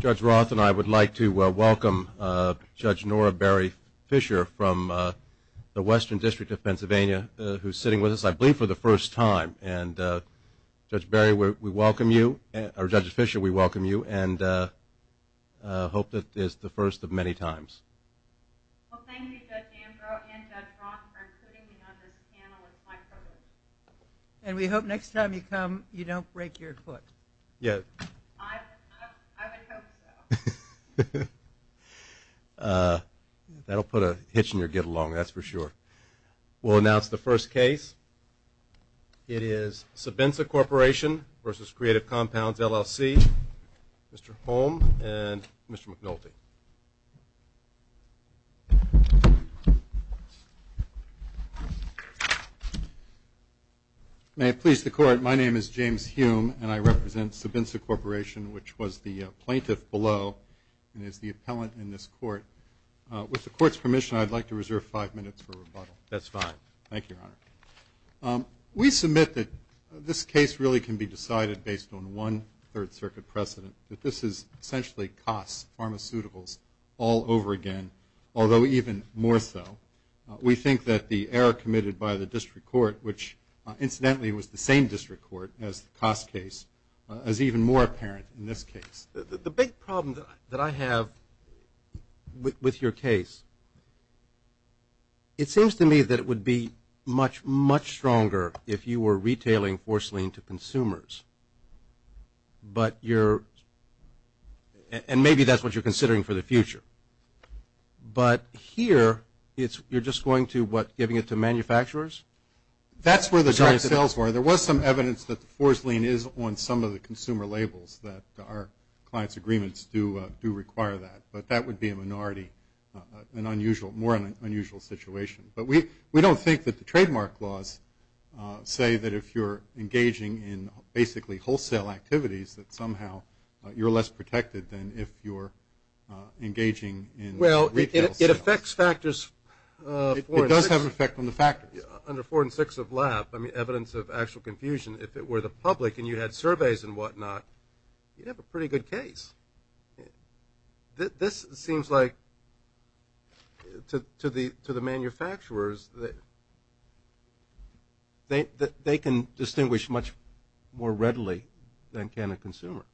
Judge Roth and I would like to welcome Judge Nora Barry Fisher from the Western District of Pennsylvania who is sitting with us, I believe, for the first time. And Judge Barry, we welcome you, or Judge Fisher, we welcome you and hope that this is the first of many times. Well, thank you, Judge Ambrose and Judge Roth for including me on this panel. It's my privilege. And we hope next time you come, you don't break your foot. Yes. I would hope so. That'll put a hitch in your get-along, that's for sure. We'll announce the first case. It is Sabinsa Corporation v. Creative Compounds LLC. Mr. Holm and Mr. McNulty. May it please the court, my name is James Hume and I represent Sabinsa Corporation, which was the plaintiff below and is the appellant in this court. With the court's permission, I'd like to reserve five minutes for rebuttal. That's fine. Thank you, Your Honor. We submit that this case really can be decided based on one Third Circuit precedent, that this is essentially costs, pharmaceuticals, all over again, although even more so. We think that the error committed by the district court, which incidentally was the same district court as the cost case, is even more apparent in this case. The big problem that I have with your case, it seems to me that it would be much, much stronger if you were retailing force lean to consumers, but you're, and maybe that's what you're considering for the future. But here, you're just going to what, giving it to manufacturers? That's where the sales were. There was some evidence that the force lean is on some of the consumer labels that our clients' agreements do require that, but that would be a minority, an unusual, more unusual situation. But we don't think that the trademark laws say that if you're engaging in basically wholesale activities, that somehow you're less protected than if you're engaging in retail sales. Well, it affects factors. It does have an effect on the factors. Under four and six of lab, I mean evidence of actual confusion, if it were the public and you had surveys and whatnot, you'd have a pretty good case. This seems like, to the manufacturers, they can distinguish much more readily than can a consumer.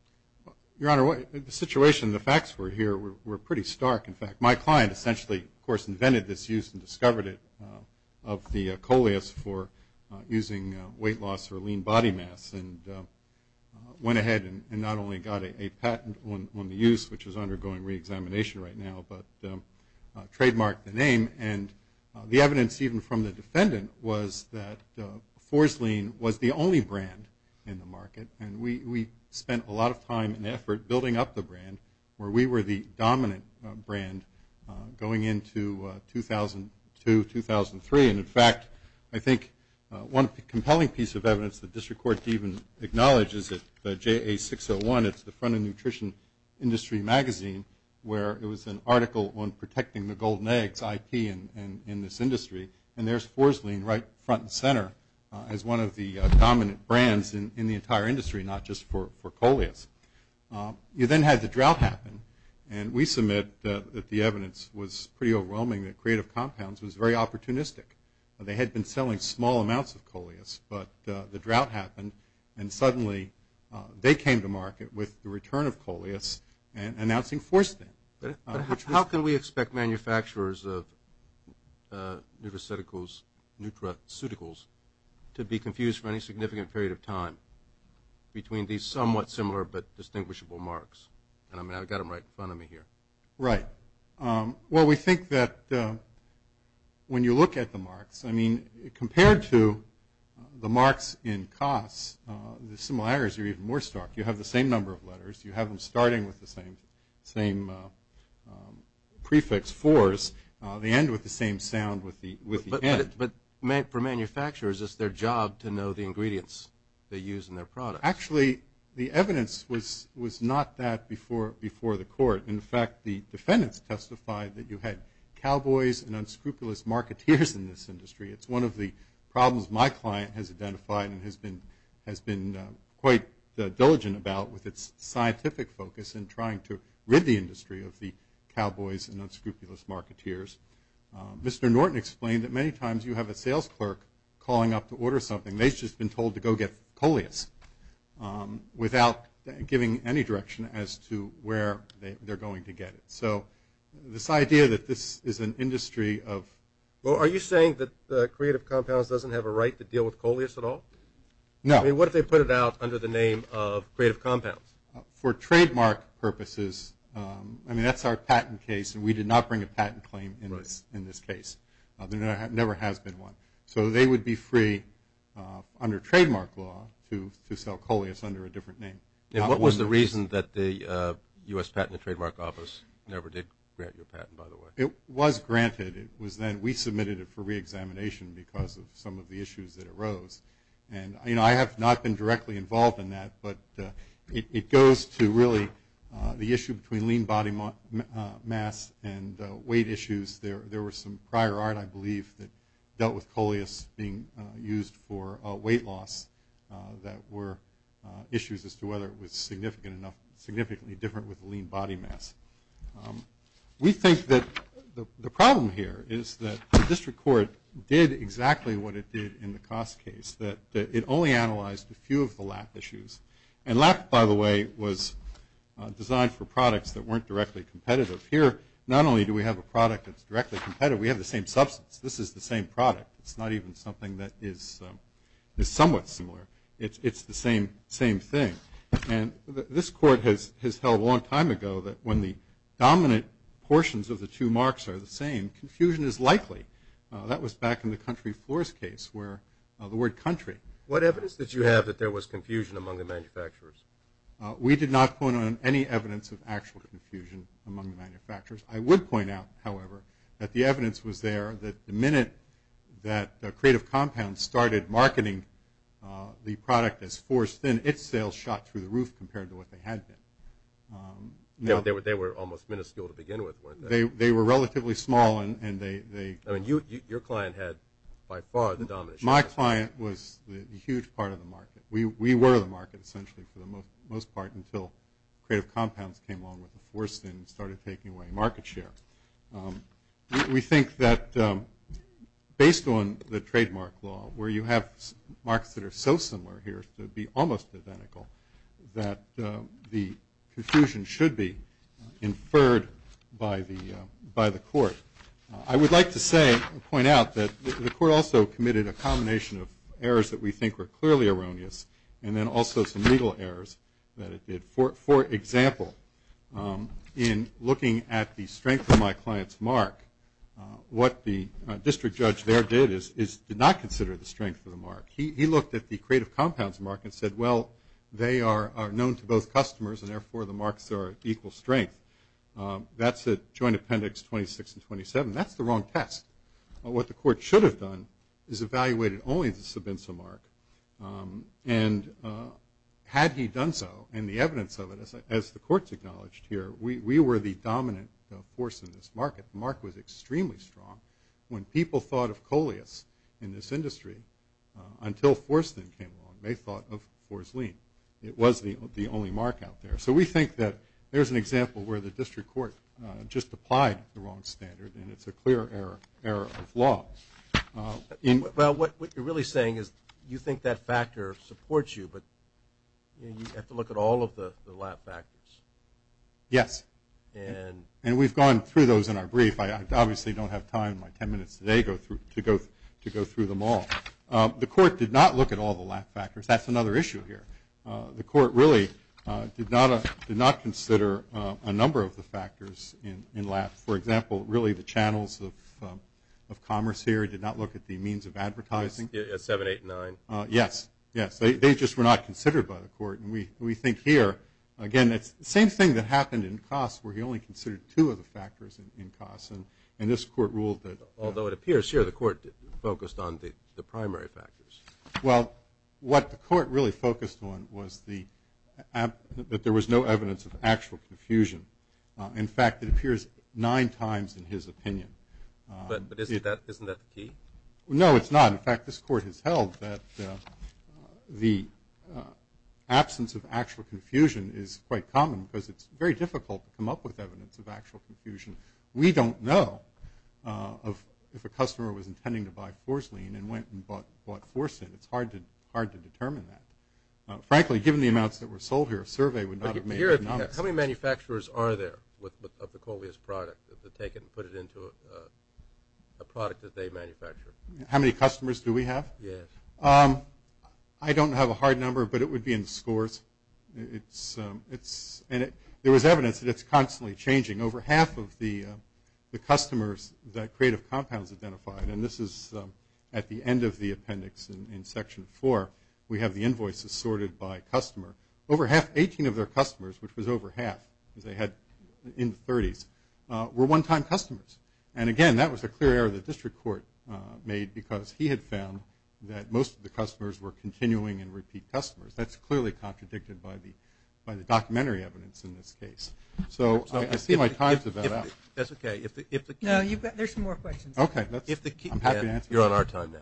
Your Honor, the situation, the facts were here were pretty stark. In fact, my client essentially, of course, invented this use and discovered it of the coleus for using weight loss or lean body mass and went ahead and not only got a patent on the use, which is undergoing reexamination right now, but trademarked the name. And the evidence even from the defendant was that Forslean was the only brand in the market. And we spent a lot of time and effort building up the brand where we were the dominant brand going into 2002, 2003. And in fact, I think one compelling piece of evidence that District Court even acknowledges is that JA601, it's the front of Nutrition Industry Magazine, where it was an article on protecting the golden eggs, IP, in this industry. And there's Forslean right front and center as one of the dominant brands in the entire industry, not just for coleus. You then had the drought happen. And we submit that the evidence was pretty overwhelming that Creative Compounds was very opportunistic. They had been selling small amounts of coleus, but the drought happened. And suddenly, they came to market with the return of coleus and announcing Forslean. But how can we expect manufacturers of nutraceuticals to be confused for any significant period of time between these somewhat similar but distinguishable marks? And I mean, I've got them right in front of me here. Right. Well, we think that when you look at the marks, I mean, compared to the marks in COS, the similarities are even more stark. You have the same number of letters. You have them starting with the same prefix, fours. They end with the same sound with the end. But for manufacturers, it's their job to know the ingredients they use in their products. Actually, the evidence was not that before the court. In fact, the defendants testified that you had cowboys and unscrupulous marketeers in this industry. It's one of the problems my client has identified and has been quite diligent about with its scientific focus in trying to rid the industry of the cowboys and unscrupulous marketeers. Mr. Norton explained that many times you have a sales clerk calling up to order something. They've just been told to go get coleus without giving any direction as to where they're going to get it. So this idea that this is an industry of... No. I mean, what if they put it out under the name of creative compounds? For trademark purposes, I mean, that's our patent case, and we did not bring a patent claim in this case. There never has been one. So they would be free under trademark law to sell coleus under a different name. And what was the reason that the U.S. Patent and Trademark Office never did grant you a patent, by the way? It was granted. We submitted it for reexamination because of some of the issues that arose. And I have not been directly involved in that, but it goes to really the issue between lean body mass and weight issues. There were some prior art, I believe, that dealt with coleus being used for weight loss that were issues as to whether it was significantly different with lean body mass. We think that the problem here is that the district court did exactly what it did in the cost case, that it only analyzed a few of the lack issues. And lack, by the way, was designed for products that weren't directly competitive. Here, not only do we have a product that's directly competitive, we have the same substance. This is the same product. It's not even something that is somewhat similar. It's the same thing. And this court has held a long time ago that when the dominant portions of the two marks are the same, confusion is likely. That was back in the country floors case where the word country. What evidence did you have that there was confusion among the manufacturers? We did not point out any evidence of actual confusion among the manufacturers. I would point out, however, that the evidence was there that the minute that Creative Compound started marketing the product as forced thin, its sales shot through the roof compared to what they had been. They were almost minuscule to begin with, weren't they? They were relatively small. Your client had by far the dominant share. My client was a huge part of the market. We were the market essentially for the most part until Creative Compounds came along with the forced thin and started taking away market share. We think that based on the trademark law, where you have marks that are so similar here to be almost identical, that the confusion should be inferred by the court. I would like to point out that the court also committed a combination of errors that we think were clearly erroneous and then also some legal errors that it did. For example, in looking at the strength of my client's mark, what the district judge there did is did not consider the strength of the mark. He looked at the Creative Compounds mark and said, well, they are known to both customers and therefore the marks are equal strength. That's at Joint Appendix 26 and 27. That's the wrong test. What the court should have done is evaluated only the Sobinso mark. And had he done so and the evidence of it, as the courts acknowledged here, we were the dominant force in this market. The mark was extremely strong. When people thought of Coleus in this industry until forced thin came along, they thought of Fors Lean. It was the only mark out there. So we think that there's an example where the district court just applied the wrong standard and it's a clear error of law. Well, what you're really saying is you think that factor supports you, but you have to look at all of the LAP factors. Yes. And we've gone through those in our brief. I obviously don't have time in my 10 minutes today to go through them all. The court did not look at all the LAP factors. That's another issue here. The court really did not consider a number of the factors in LAP. For example, really the channels of commerce here did not look at the means of advertising. 7, 8, 9. Yes. Yes. They just were not considered by the court. And we think here, again, it's the same thing that happened in costs where he only considered two of the factors in costs. And this court ruled that. Although it appears here the court focused on the primary factors. Well, what the court really focused on was that there was no evidence of actual confusion. In fact, it appears nine times in his opinion. But isn't that the key? No, it's not. In fact, this court has held that the absence of actual confusion is quite common because it's very difficult to come up with evidence of actual confusion. We don't know if a customer was intending to buy Forslean and went and bought Forsen. It's hard to determine that. Frankly, given the amounts that were sold here, a survey would not have made it anomalous. How many manufacturers are there of the Corlea's product, that take it and put it into a product that they manufacture? How many customers do we have? Yes. I don't have a hard number, but it would be in the scores. And there was evidence that it's constantly changing. Over half of the customers that Creative Compounds identified, and this is at the end of the appendix in Section 4, we have the invoices sorted by customer. Over half, 18 of their customers, which was over half, as they had in the 30s, were one-time customers. And, again, that was a clear error the district court made because he had found that most of the customers were continuing and repeat customers. That's clearly contradicted by the documentary evidence in this case. So I see my time's about up. That's okay. No, there's some more questions. Okay. I'm happy to answer them. You're on our time now.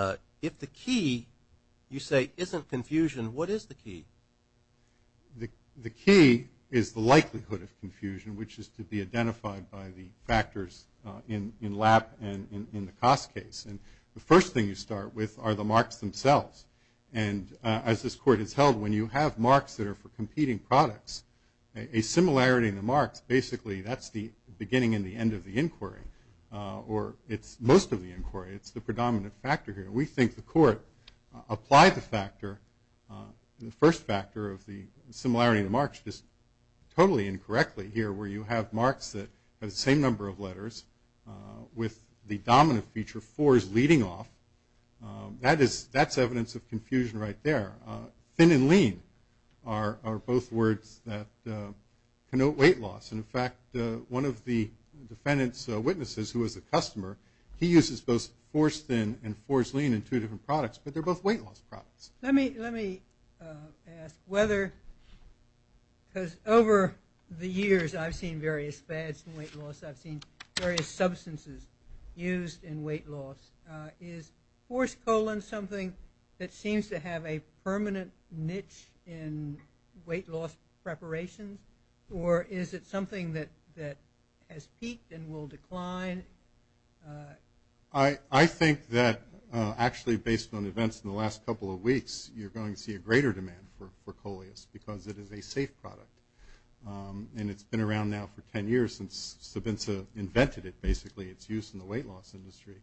Okay. If the key, you say, isn't confusion, what is the key? The key is the likelihood of confusion, which is to be identified by the factors in LAP and in the cost case. And the first thing you start with are the marks themselves. And as this court has held, when you have marks that are for competing products, a similarity in the marks, basically that's the beginning and the end of the inquiry, or it's most of the inquiry. It's the predominant factor here. We think the court applied the factor, the first factor of the similarity in the marks, just totally incorrectly here where you have marks that have the same number of letters with the dominant feature fours leading off. That's evidence of confusion right there. Thin and lean are both words that connote weight loss. And, in fact, one of the defendant's witnesses who was a customer, he uses both force thin and force lean in two different products, but they're both weight loss products. Let me ask whether, because over the years I've seen various fads in weight loss, I've seen various substances used in weight loss. Is force colon something that seems to have a permanent niche in weight loss preparation, or is it something that has peaked and will decline? I think that, actually, based on events in the last couple of weeks, you're going to see a greater demand for Coleus because it is a safe product. And it's been around now for 10 years since Sabinza invented it, basically, its use in the weight loss industry.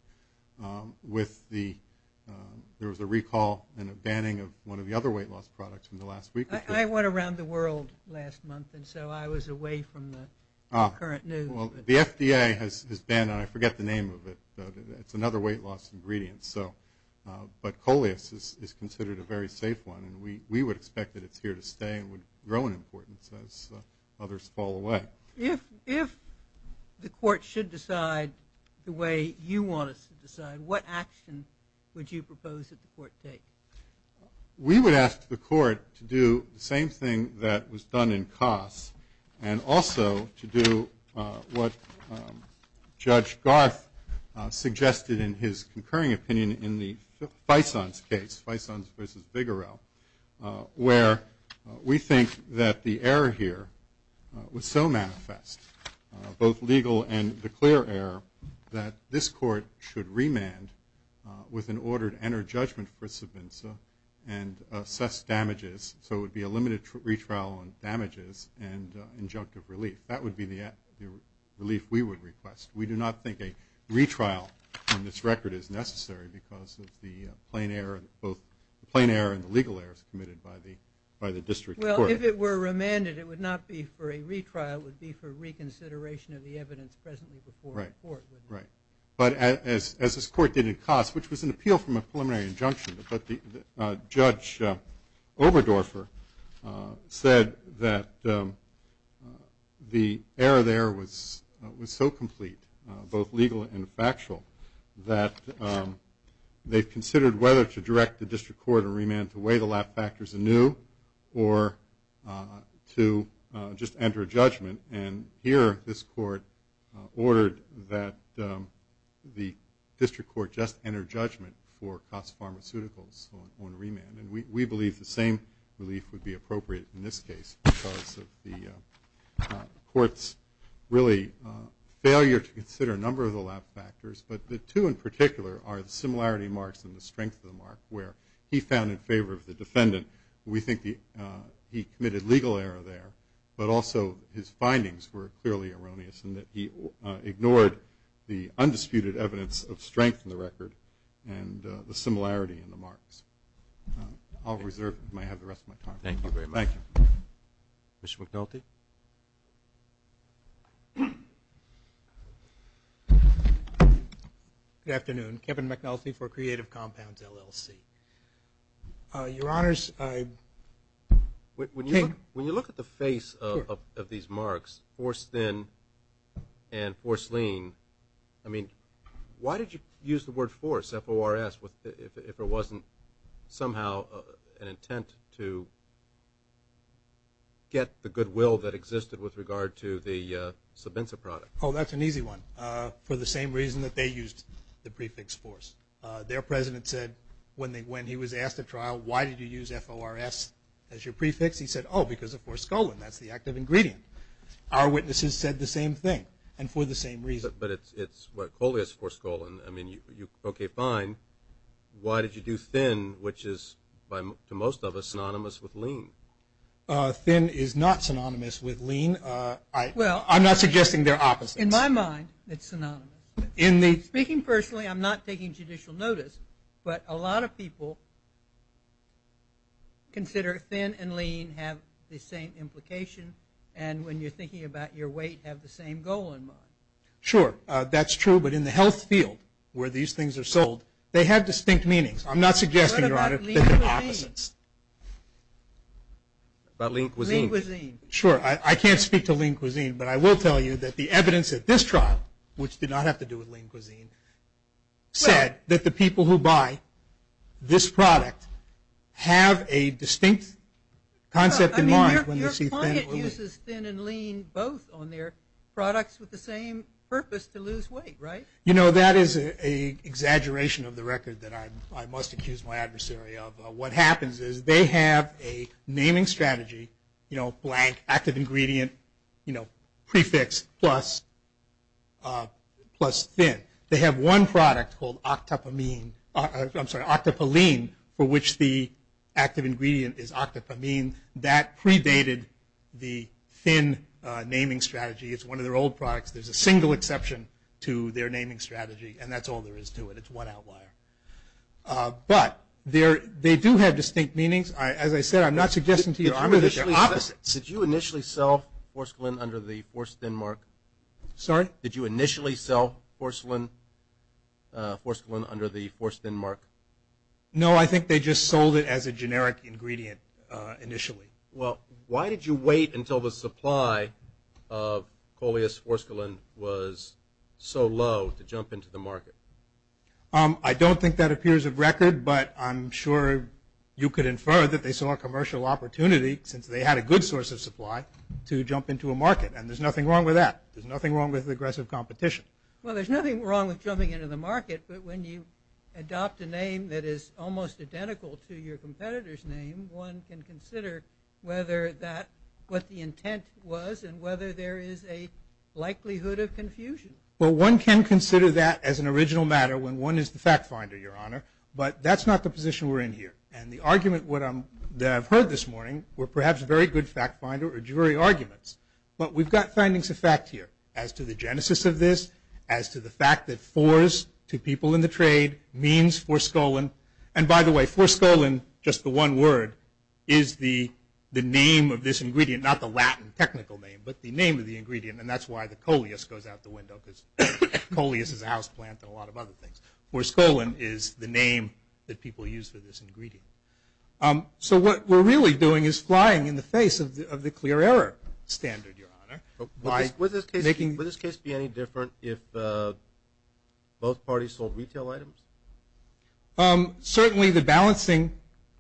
There was a recall and a banning of one of the other weight loss products from the last week. I went around the world last month, and so I was away from the current news. Well, the FDA has banned it. I forget the name of it. It's another weight loss ingredient. But Coleus is considered a very safe one, and we would expect that it's here to stay and would grow in importance as others fall away. If the court should decide the way you want us to decide, what action would you propose that the court take? We would ask the court to do the same thing that was done in Kos and also to do what Judge Garth suggested in his concurring opinion in the Faison's case, Faison's versus Bigarell, where we think that the error here was so manifest, both legal and the clear error, that this court should remand with an order to enter judgment for Sabinza and assess damages. So it would be a limited retrial on damages and injunctive relief. That would be the relief we would request. We do not think a retrial on this record is necessary because of the plain error, both the plain error and the legal errors committed by the district court. Well, if it were remanded, it would not be for a retrial. That would be for reconsideration of the evidence presently before the court. Right. But as this court did in Kos, which was an appeal from a preliminary injunction, but Judge Oberdorfer said that the error there was so complete, both legal and factual, that they've considered whether to direct the district court to remand to weigh the lab factors anew or to just enter judgment. And here this court ordered that the district court just enter judgment for Kos Pharmaceuticals on remand. And we believe the same relief would be appropriate in this case because of the court's really failure to consider a number of the lab factors, but the two in particular are the similarity marks and the strength of the mark where he found in favor of the defendant. We think he committed legal error there, but also his findings were clearly erroneous in that he ignored the undisputed evidence of strength in the record and the similarity in the marks. I'll reserve the rest of my time. Thank you very much. Thank you. Mr. McNulty. Good afternoon. Kevin McNulty for Creative Compounds, LLC. Your Honors, I – When you look at the face of these marks, force thin and force lean, I mean, why did you use the word force, F-O-R-S, if it wasn't somehow an intent to get the goodwill that existed with regard to the subventsive product? Oh, that's an easy one. For the same reason that they used the prefix force. Their president said when he was asked at trial, why did you use F-O-R-S as your prefix? He said, oh, because of force colon. That's the active ingredient. Our witnesses said the same thing and for the same reason. But it's what, coleus force colon. I mean, okay, fine. Why did you do thin, which is, to most of us, synonymous with lean? Thin is not synonymous with lean. I'm not suggesting they're opposites. In my mind, it's synonymous. Speaking personally, I'm not taking judicial notice, but a lot of people consider thin and lean have the same implication and when you're thinking about your weight, have the same goal in mind. Sure, that's true. But in the health field where these things are sold, they have distinct meanings. I'm not suggesting they're opposites. Lean cuisine. Sure, I can't speak to lean cuisine, but I will tell you that the evidence at this trial, which did not have to do with lean cuisine, said that the people who buy this product have a distinct concept in mind. I mean, your client uses thin and lean both on their products with the same purpose to lose weight, right? You know, that is an exaggeration of the record that I must accuse my adversary of. What happens is they have a naming strategy, you know, blank, active ingredient, you know, prefix, plus thin. They have one product called octopelene for which the active ingredient is octopelene. That predated the thin naming strategy. It's one of their old products. There's a single exception to their naming strategy, and that's all there is to it. It's one outlier. But they do have distinct meanings. As I said, I'm not suggesting to you that they're opposites. Did you initially sell forscolin under the forced thin mark? Sorry? Did you initially sell forscolin under the forced thin mark? No, I think they just sold it as a generic ingredient initially. Well, why did you wait until the supply of coleus forscolin was so low to jump into the market? I don't think that appears of record, but I'm sure you could infer that they saw a commercial opportunity, since they had a good source of supply, to jump into a market. And there's nothing wrong with that. There's nothing wrong with aggressive competition. Well, there's nothing wrong with jumping into the market, but when you adopt a name that is almost identical to your competitor's name, one can consider whether that, what the intent was, and whether there is a likelihood of confusion. Well, one can consider that as an original matter when one is the fact finder, Your Honor. But that's not the position we're in here. And the argument that I've heard this morning were perhaps very good fact finder or jury arguments. But we've got findings of fact here as to the genesis of this, as to the fact that fours to people in the trade means forscolin. And by the way, forscolin, just the one word, is the name of this ingredient, not the Latin technical name, but the name of the ingredient. And that's why the coleus goes out the window, because coleus is a house plant and a lot of other things. Forscolin is the name that people use for this ingredient. So what we're really doing is flying in the face of the clear error standard, Your Honor. Would this case be any different if both parties sold retail items? Certainly the balancing,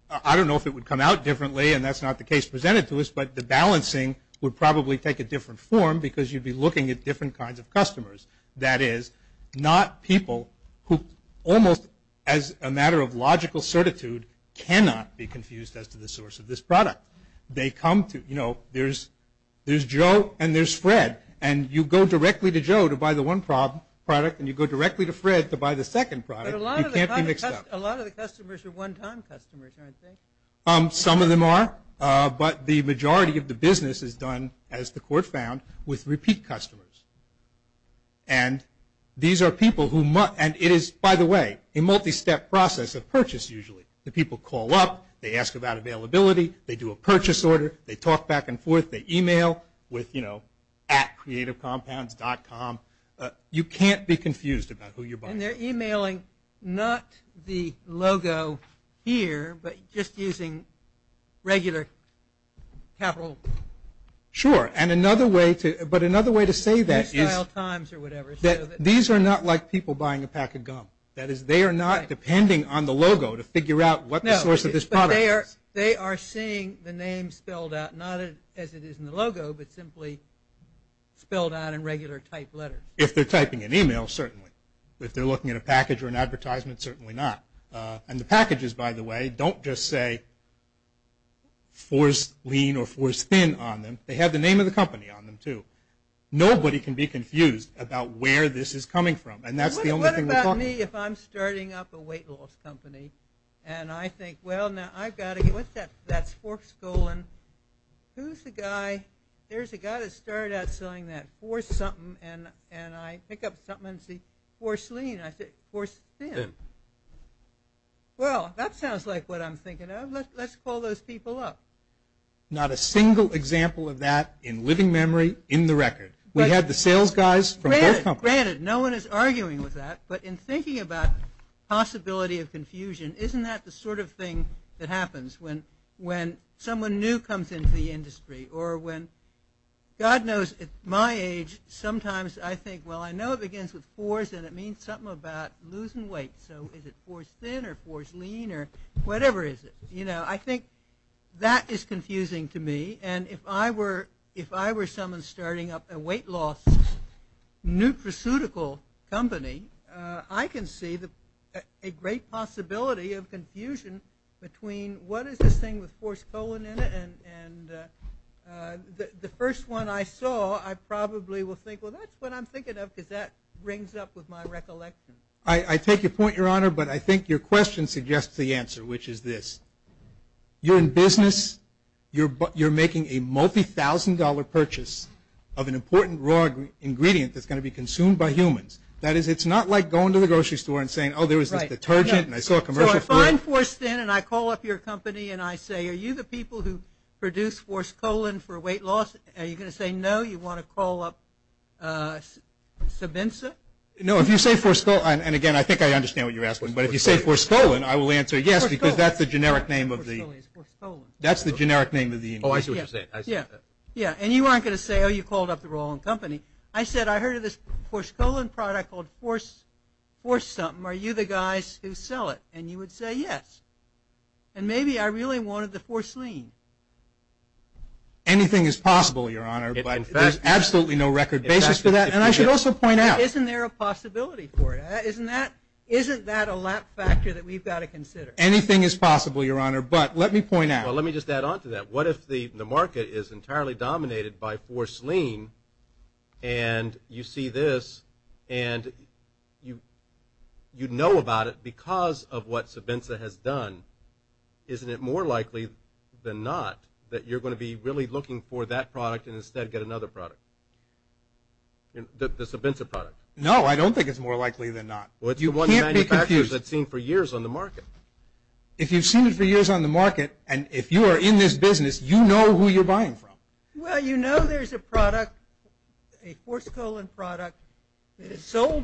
I don't know if it would come out differently, and that's not the case presented to us, but the balancing would probably take a different form because you'd be looking at different kinds of customers. That is, not people who almost as a matter of logical certitude cannot be confused as to the source of this product. They come to, you know, there's Joe and there's Fred. And you go directly to Joe to buy the one product, and you go directly to Fred to buy the second product. You can't be mixed up. But a lot of the customers are one-time customers, aren't they? Some of them are, but the majority of the business is done, as the court found, with repeat customers. And these are people who must – and it is, by the way, a multi-step process of purchase usually. The people call up, they ask about availability, they do a purchase order, they talk back and forth, they email with, you know, at creativecompounds.com. You can't be confused about who you're buying from. And they're emailing not the logo here, but just using regular capital. Sure, and another way to – but another way to say that is that these are not like people buying a pack of gum. That is, they are not depending on the logo to figure out what the source of this product is. No, but they are seeing the name spelled out, not as it is in the logo, but simply spelled out in regular typed letters. If they're typing an email, certainly. If they're looking at a package or an advertisement, certainly not. And the packages, by the way, don't just say Force Lean or Force Thin on them. They have the name of the company on them, too. Nobody can be confused about where this is coming from, and that's the only thing we're talking about. What about me if I'm starting up a weight loss company, and I think, well, now I've got to – what's that – that's Forks Golan. Who's the guy – there's a guy that started out selling that Force something, and I pick up something and see Force Lean. I say Force Thin. Well, that sounds like what I'm thinking of. Let's call those people up. Not a single example of that in living memory in the record. We had the sales guys from both companies. Granted, no one is arguing with that, but in thinking about possibility of confusion, isn't that the sort of thing that happens when someone new comes into the industry, or when – God knows, at my age, sometimes I think, well, I know it begins with Force, and it means something about losing weight, so is it Force Thin or Force Lean or whatever it is. I think that is confusing to me, and if I were someone starting up a weight loss nutraceutical company, I can see a great possibility of confusion between what is this thing with Force Golan in it, and the first one I saw, I probably will think, well, that's what I'm thinking of, because that rings up with my recollection. I take your point, Your Honor, but I think your question suggests the answer, which is this. You're in business. You're making a multi-thousand-dollar purchase of an important raw ingredient that's going to be consumed by humans. That is, it's not like going to the grocery store and saying, oh, there was this detergent, and I saw a commercial for it. So I find Force Thin, and I call up your company, and I say, are you the people who produce Force Golan for weight loss? Are you going to say no? You want to call up Sobinsa? No, if you say Force Golan – and, again, I think I understand what you're asking, but if you say Force Golan, I will answer yes, because that's the generic name of the – Force Golan is Force Golan. That's the generic name of the ingredient. Oh, I see what you're saying. Yeah, and you aren't going to say, oh, you called up the wrong company. I said, I heard of this Force Golan product called Force something. Are you the guys who sell it? And you would say yes. And maybe I really wanted the Force Lean. Anything is possible, Your Honor, but there's absolutely no record basis for that. And I should also point out – Isn't there a possibility for it? Isn't that a lap factor that we've got to consider? Anything is possible, Your Honor, but let me point out – Well, let me just add on to that. What if the market is entirely dominated by Force Lean and you see this and you know about it because of what Sobenza has done? Isn't it more likely than not that you're going to be really looking for that product and instead get another product, the Sobenza product? No, I don't think it's more likely than not. Well, it's the one manufacturer that's seen for years on the market. If you've seen it for years on the market and if you are in this business, you know who you're buying from. Well, you know there's a product, a Force Golan product that is sold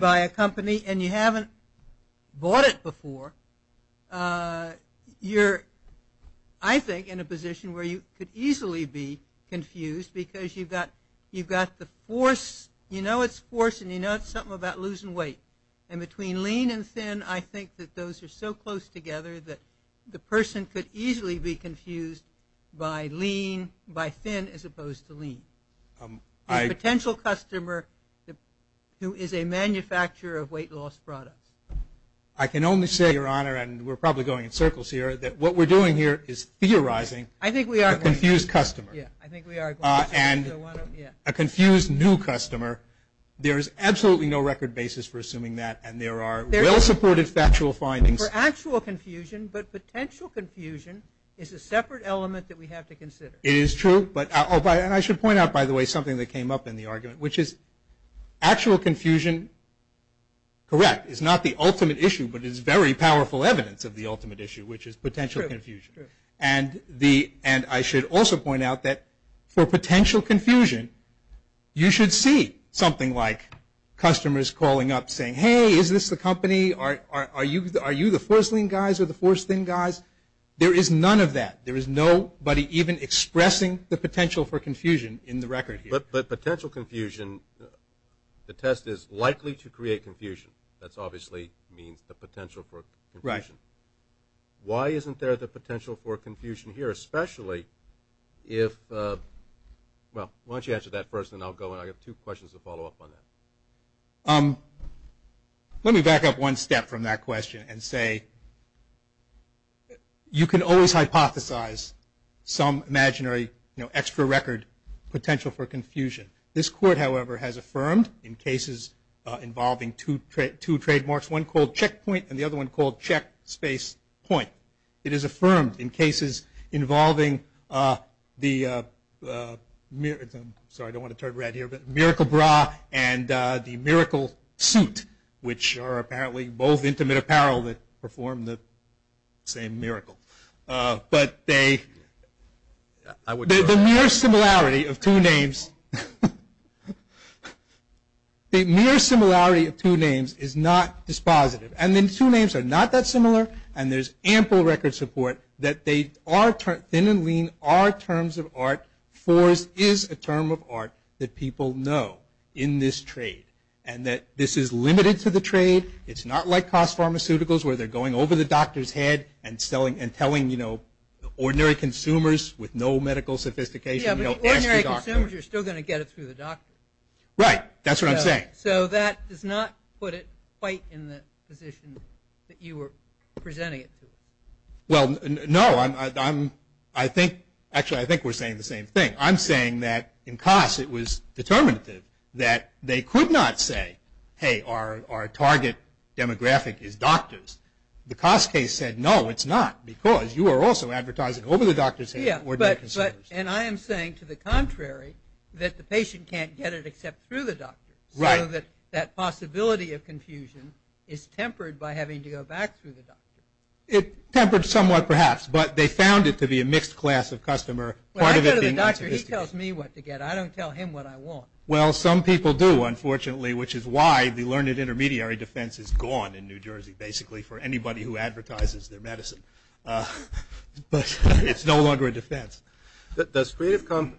by a company and you haven't bought it before. You're, I think, in a position where you could easily be confused because you've got the Force. You know it's Force and you know it's something about losing weight. And between Lean and Thin, I think that those are so close together that the person could easily be confused by Lean, by Thin as opposed to Lean. A potential customer who is a manufacturer of weight loss products. I can only say, Your Honor, and we're probably going in circles here, that what we're doing here is theorizing a confused customer. And a confused new customer, there is absolutely no record basis for assuming that. And there are well-supported factual findings. For actual confusion, but potential confusion, is a separate element that we have to consider. It is true. And I should point out, by the way, something that came up in the argument, which is actual confusion, correct, is not the ultimate issue, but is very powerful evidence of the ultimate issue, which is potential confusion. And I should also point out that for potential confusion, you should see something like customers calling up saying, Hey, is this the company? Are you the Force Lean guys or the Force Thin guys? There is none of that. There is nobody even expressing the potential for confusion in the record here. But potential confusion, the test is likely to create confusion. That obviously means the potential for confusion. Right. Why isn't there the potential for confusion here? Especially if, well, why don't you answer that first and then I'll go. I have two questions to follow up on that. Let me back up one step from that question and say, you can always hypothesize some imaginary extra record potential for confusion. This court, however, has affirmed in cases involving two trademarks, one called checkpoint and the other one called check space point. It is affirmed in cases involving the miracle bra and the miracle suit, which are apparently both intimate apparel that perform the same miracle. But the mere similarity of two names is not dispositive. And then two names are not that similar and there's ample record support that they are, Thin and Lean are terms of art. Force is a term of art that people know in this trade and that this is limited to the trade. It's not like cost pharmaceuticals where they're going over the doctor's head and telling, you know, ordinary consumers with no medical sophistication, you know, ask the doctor. Yeah, but ordinary consumers are still going to get it through the doctor. Right. That's what I'm saying. Okay. So that does not put it quite in the position that you were presenting it to us. Well, no, I think, actually I think we're saying the same thing. I'm saying that in cost it was determinative that they could not say, hey, our target demographic is doctors. The cost case said, no, it's not because you are also advertising over the doctor's head. Yeah, but, and I am saying to the contrary that the patient can't get it except through the doctor. Right. So that that possibility of confusion is tempered by having to go back through the doctor. It tempered somewhat perhaps, but they found it to be a mixed class of customer. Well, I go to the doctor. He tells me what to get. I don't tell him what I want. Well, some people do, unfortunately, which is why the learned intermediary defense is gone in New Jersey, basically, for anybody who advertises their medicine. But it's no longer a defense. Does Creative Commons?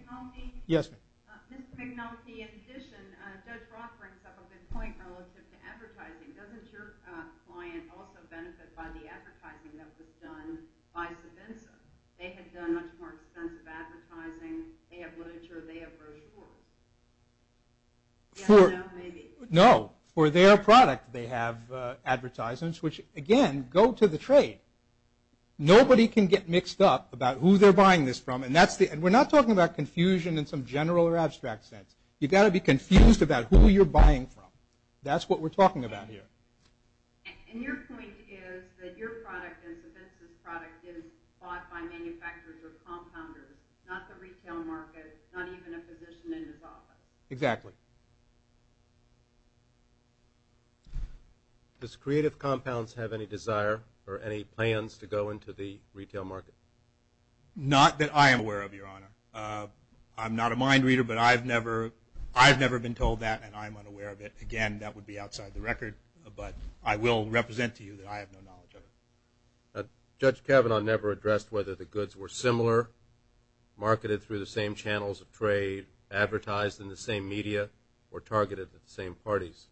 Yes, ma'am. Ms. McNulty, in addition, Judge Roth brings up a good point relative to advertising. Doesn't your client also benefit by the advertising that was done by Savinsa? They had done much more extensive advertising. They have literature. They have brochures. Yes, no, maybe. No. For their product they have advertisements, which, again, go to the trade. Nobody can get mixed up about who they're buying this from. And we're not talking about confusion in some general or abstract sense. You've got to be confused about who you're buying from. That's what we're talking about here. And your point is that your product and Savinsa's product is bought by manufacturers or compounders, not the retail market, not even a physician in his office. Exactly. Does Creative Compounds have any desire or any plans to go into the retail market? Not that I am aware of, Your Honor. I'm not a mind reader, but I've never been told that, and I'm unaware of it. Again, that would be outside the record, but I will represent to you that I have no knowledge of it. Judge Kavanaugh never addressed whether the goods were similar, marketed through the same channels of trade, advertised in the same media, or targeted at the same parties.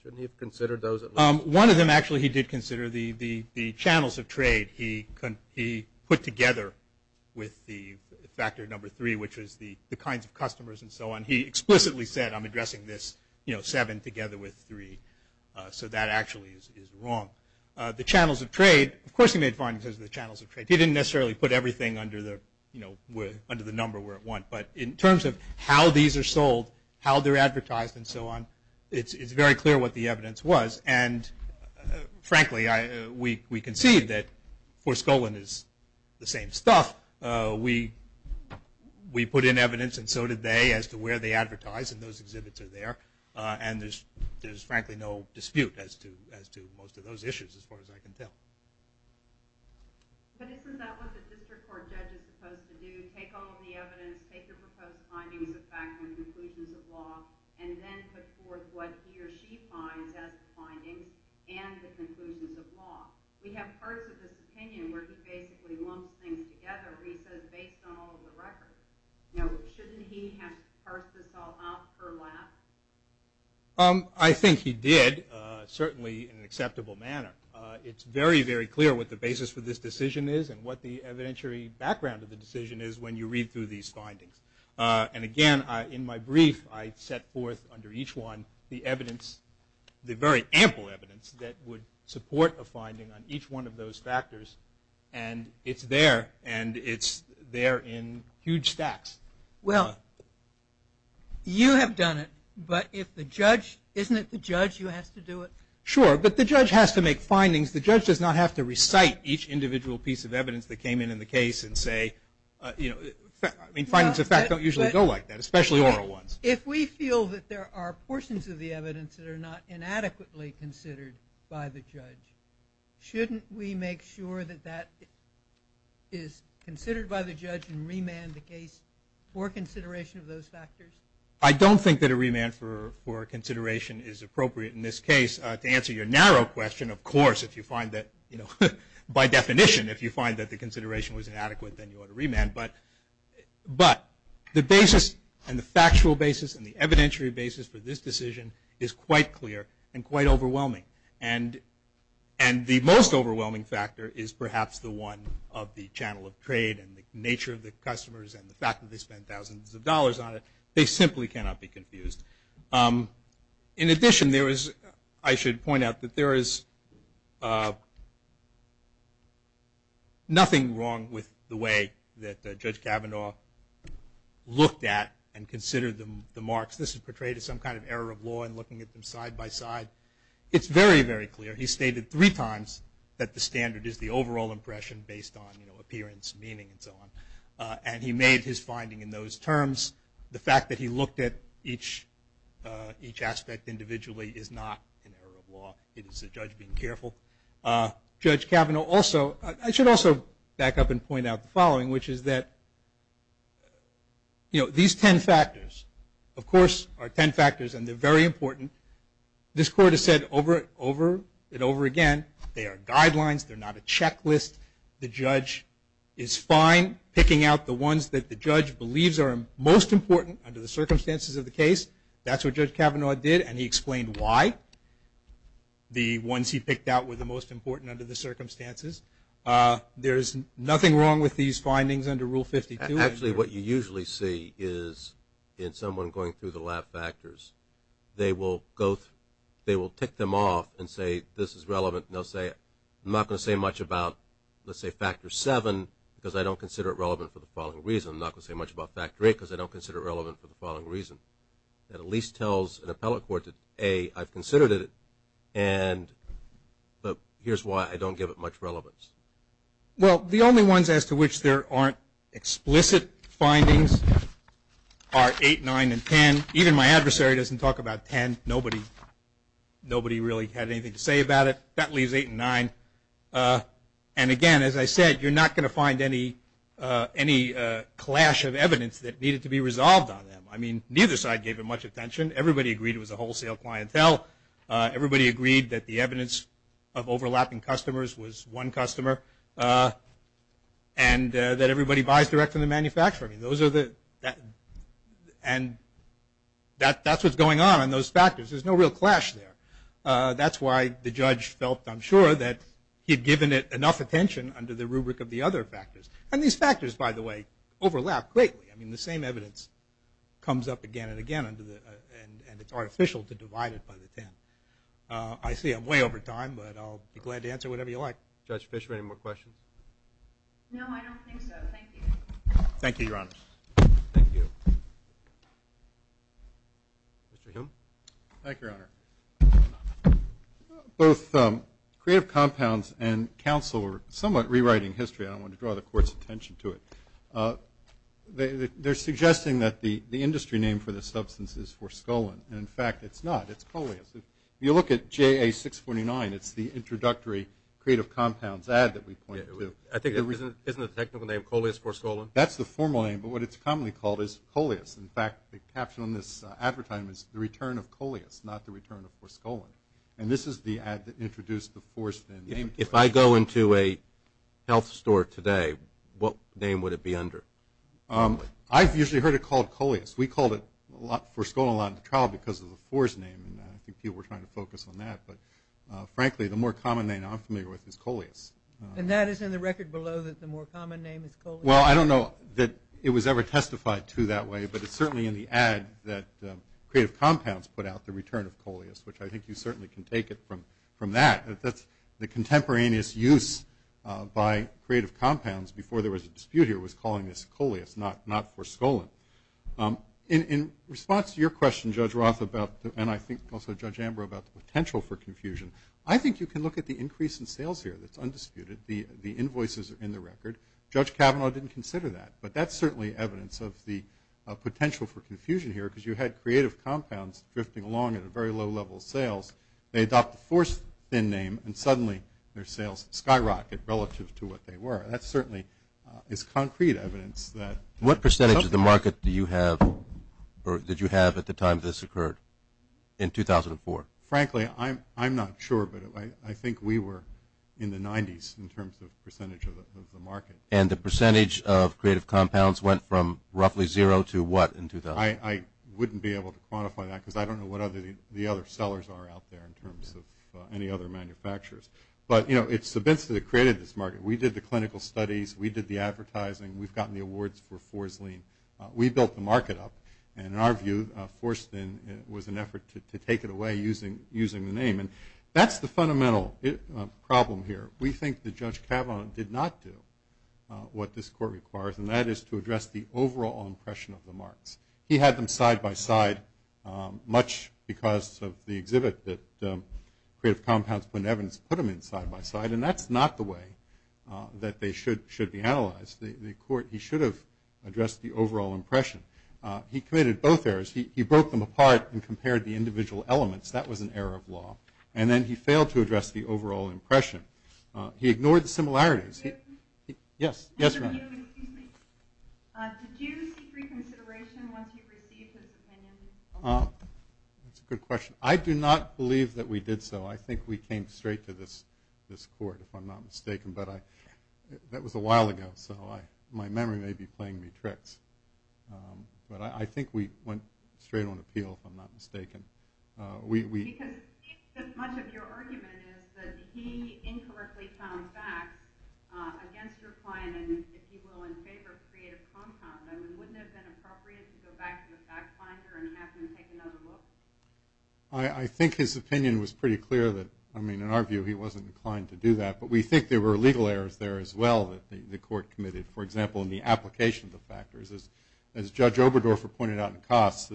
Shouldn't he have considered those at least? One of them, actually, he did consider, the channels of trade. He put together with the factor number three, which is the kinds of customers and so on, he explicitly said, I'm addressing this seven together with three. So that actually is wrong. The channels of trade, of course he made findings of the channels of trade. He didn't necessarily put everything under the number where it went. But in terms of how these are sold, how they're advertised and so on, it's very clear what the evidence was. And frankly, we concede that Forskollin is the same stuff. We put in evidence and so did they as to where they advertise, and those exhibits are there. And there's frankly no dispute as to most of those issues as far as I can tell. But isn't that what the district court judge is supposed to do, take all of the evidence, take the proposed findings of fact and conclusions of law, and then put forth what he or she finds as the findings and the conclusions of law? We have parts of his opinion where he basically lumps things together, where he says, based on all of the records. Now, shouldn't he have parsed this all off her lap? I think he did, certainly in an acceptable manner. It's very, very clear what the basis for this decision is and what the evidentiary background of the decision is when you read through these findings. And again, in my brief, I set forth under each one the evidence, the very ample evidence that would support a finding on each one of those factors. And it's there, and it's there in huge stacks. Well, you have done it, but if the judge, isn't it the judge who has to do it? Sure, but the judge has to make findings. The judge does not have to recite each individual piece of evidence that came in in the case and say, you know, findings of fact don't usually go like that, especially oral ones. If we feel that there are portions of the evidence that are not inadequately considered by the judge, shouldn't we make sure that that is considered by the judge and remand the case for consideration of those factors? I don't think that a remand for consideration is appropriate in this case. To answer your narrow question, of course, if you find that, you know, by definition, if you find that the consideration was inadequate, then you ought to remand. But the basis and the factual basis and the evidentiary basis for this decision is quite clear and quite overwhelming. And the most overwhelming factor is perhaps the one of the channel of trade and the nature of the customers and the fact that they spent thousands of dollars on it. They simply cannot be confused. In addition, I should point out that there is nothing wrong with the way that Judge Kavanaugh looked at and considered the marks. This is portrayed as some kind of error of law in looking at them side by side. It's very, very clear. He stated three times that the standard is the overall impression based on, you know, appearance, meaning, and so on. And he made his finding in those terms. The fact that he looked at each aspect individually is not an error of law. It is the judge being careful. Judge Kavanaugh also – I should also back up and point out the following, which is that, you know, these ten factors, of course, are ten factors and they're very important. This Court has said over and over again they are guidelines. They're not a checklist. The judge is fine picking out the ones that the judge believes are most important under the circumstances of the case. That's what Judge Kavanaugh did, and he explained why the ones he picked out were the most important under the circumstances. There is nothing wrong with these findings under Rule 52. Actually, what you usually see is in someone going through the lab factors, I'm not going to say much about, let's say, factor seven because I don't consider it relevant for the following reason. I'm not going to say much about factor eight because I don't consider it relevant for the following reason. That at least tells an appellate court that, A, I've considered it, and here's why I don't give it much relevance. Well, the only ones as to which there aren't explicit findings are eight, nine, and ten. Even my adversary doesn't talk about ten. Nobody really had anything to say about it. That leaves eight and nine. And, again, as I said, you're not going to find any clash of evidence that needed to be resolved on them. I mean, neither side gave it much attention. Everybody agreed it was a wholesale clientele. Everybody agreed that the evidence of overlapping customers was one customer and that everybody buys directly from the manufacturer. That's what's going on in those factors. There's no real clash there. That's why the judge felt, I'm sure, that he had given it enough attention under the rubric of the other factors. And these factors, by the way, overlap greatly. I mean, the same evidence comes up again and again, and it's artificial to divide it by the ten. I see I'm way over time, but I'll be glad to answer whatever you like. Judge Fisher, any more questions? No, I don't think so. Thank you. Thank you, Your Honor. Thank you. Mr. Hume? Thank you, Your Honor. Both Creative Compounds and counsel are somewhat rewriting history. I don't want to draw the Court's attention to it. They're suggesting that the industry name for the substance is Forskolin. In fact, it's not. It's Coleus. If you look at JA-649, it's the introductory Creative Compounds ad that we point to. I think the reason isn't the technical name Coleus Forskolin. That's the formal name, but what it's commonly called is Coleus. In fact, the caption on this advertisement is the return of Coleus, not the return of Forskolin. And this is the ad that introduced the Fors name. If I go into a health store today, what name would it be under? I've usually heard it called Coleus. We called it Forskolin a lot in the trial because of the Fors name, and I think people were trying to focus on that. But, frankly, the more common name I'm familiar with is Coleus. And that is in the record below that the more common name is Coleus? Well, I don't know that it was ever testified to that way, but it's certainly in the ad that Creative Compounds put out the return of Coleus, which I think you certainly can take it from that. The contemporaneous use by Creative Compounds before there was a dispute here was calling this Coleus, not Forskolin. In response to your question, Judge Roth, and I think also Judge Amber, about the potential for confusion, I think you can look at the increase in sales here that's undisputed. The invoices are in the record. Judge Kavanaugh didn't consider that. But that's certainly evidence of the potential for confusion here because you had Creative Compounds drifting along at a very low level of sales. They adopt the Forskin name, and suddenly their sales skyrocket relative to what they were. That certainly is concrete evidence. What percentage of the market do you have or did you have at the time this occurred in 2004? Frankly, I'm not sure, but I think we were in the 90s in terms of percentage of the market. And the percentage of Creative Compounds went from roughly zero to what in 2000? I wouldn't be able to quantify that because I don't know what the other sellers are out there in terms of any other manufacturers. But, you know, it's the business that created this market. We did the clinical studies. We did the advertising. We've gotten the awards for Forsklin. We built the market up. And in our view, Forsklin was an effort to take it away using the name. And that's the fundamental problem here. We think that Judge Kavanaugh did not do what this court requires, and that is to address the overall impression of the marks. He had them side by side, much because of the exhibit that Creative Compounds put in evidence, put them in side by side. And that's not the way that they should be analyzed. The court, he should have addressed the overall impression. He committed both errors. He broke them apart and compared the individual elements. That was an error of law. And then he failed to address the overall impression. He ignored the similarities. Yes? Yes, right. Did you seek reconsideration once you received his opinion? That's a good question. I do not believe that we did so. I think we came straight to this court, if I'm not mistaken. But that was a while ago, so my memory may be playing me tricks. But I think we went straight on appeal, if I'm not mistaken. Because much of your argument is that he incorrectly found facts against your client, and if he will in favor of Creative Compounds. I mean, wouldn't it have been appropriate to go back to the fact finder and have him take another look? I think his opinion was pretty clear that, I mean, in our view, he wasn't inclined to do that. But we think there were legal errors there as well that the court committed, for example, in the application of the factors. As Judge Oberdorfer pointed out in Cost,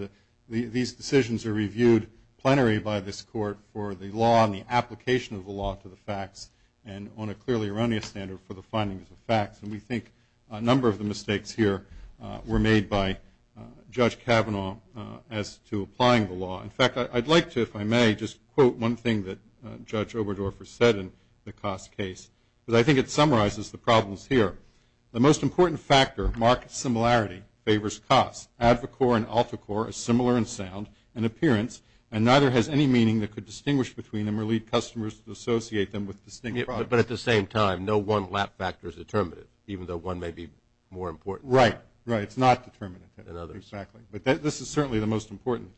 these decisions are reviewed plenary by this court for the law and the application of the law to the facts, and on a clearly erroneous standard for the findings of facts. And we think a number of the mistakes here were made by Judge Kavanaugh as to applying the law. In fact, I'd like to, if I may, just quote one thing that Judge Oberdorfer said in the Cost case, because I think it summarizes the problems here. The most important factor, market similarity, favors Cost. AdvoCorp and AltaCorp are similar in sound and appearance, and neither has any meaning that could distinguish between them or lead customers to associate them with distinct products. But at the same time, no one lap factor is determinative, even though one may be more important. Right, right. It's not determinative. Exactly. But this is certainly the most important.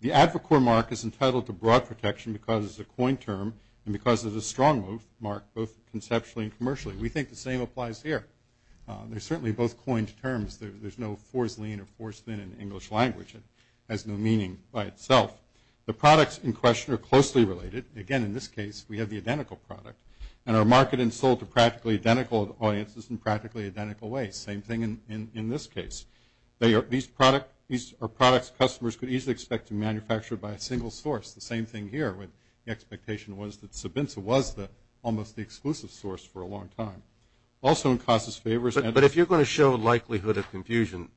The AdvoCorp mark is entitled to broad protection because it's a coined term and because it's a strong mark, both conceptually and commercially. We think the same applies here. They're certainly both coined terms. There's no fores lean or fores thin in the English language. It has no meaning by itself. The products in question are closely related. Again, in this case, we have the identical product, and are marketed and sold to practically identical audiences in practically identical ways. Same thing in this case. These are products customers could easily expect to manufacture by a single source. The same thing here, when the expectation was that Sobenza was almost the exclusive source for a long time. Also in KASA's favors and – But if you're going to show likelihood of confusion,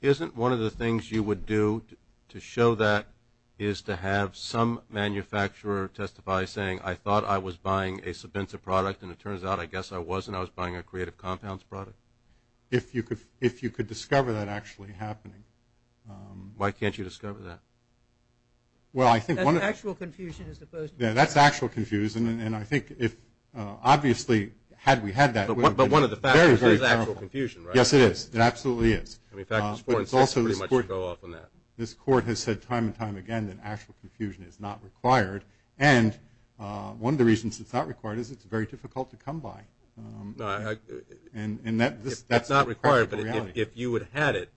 isn't one of the things you would do to show that is to have some manufacturer testify, saying, I thought I was buying a Sobenza product, and it turns out I guess I wasn't. I was buying a Creative Compounds product. If you could discover that actually happening. Why can't you discover that? Well, I think one of – That's actual confusion as opposed to – Yeah, that's actual confusion, and I think if – obviously, had we had that – But one of the factors is actual confusion, right? Yes, it is. It absolutely is. But it's also – This court has said time and time again that actual confusion is not required, and one of the reasons it's not required is it's very difficult to come by. And that – It's not required, but if you had had it,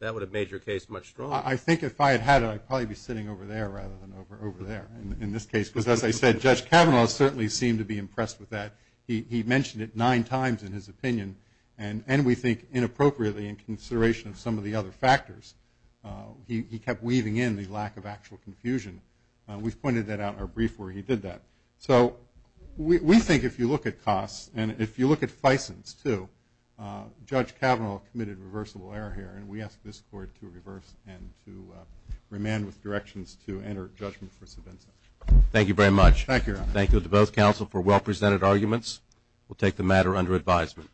that would have made your case much stronger. I think if I had had it, I'd probably be sitting over there rather than over there in this case, because as I said, Judge Kavanaugh certainly seemed to be impressed with that. He mentioned it nine times in his opinion, and we think inappropriately in consideration of some of the other factors. He kept weaving in the lack of actual confusion. We've pointed that out in our brief where he did that. So we think if you look at costs, and if you look at Fison's, too, Judge Kavanaugh committed reversible error here, and we ask this court to reverse and to remand with directions to enter judgment for Savinso. Thank you very much. Thank you, Your Honor. Thank you to both counsel for well-presented arguments. We'll take the matter under advisement.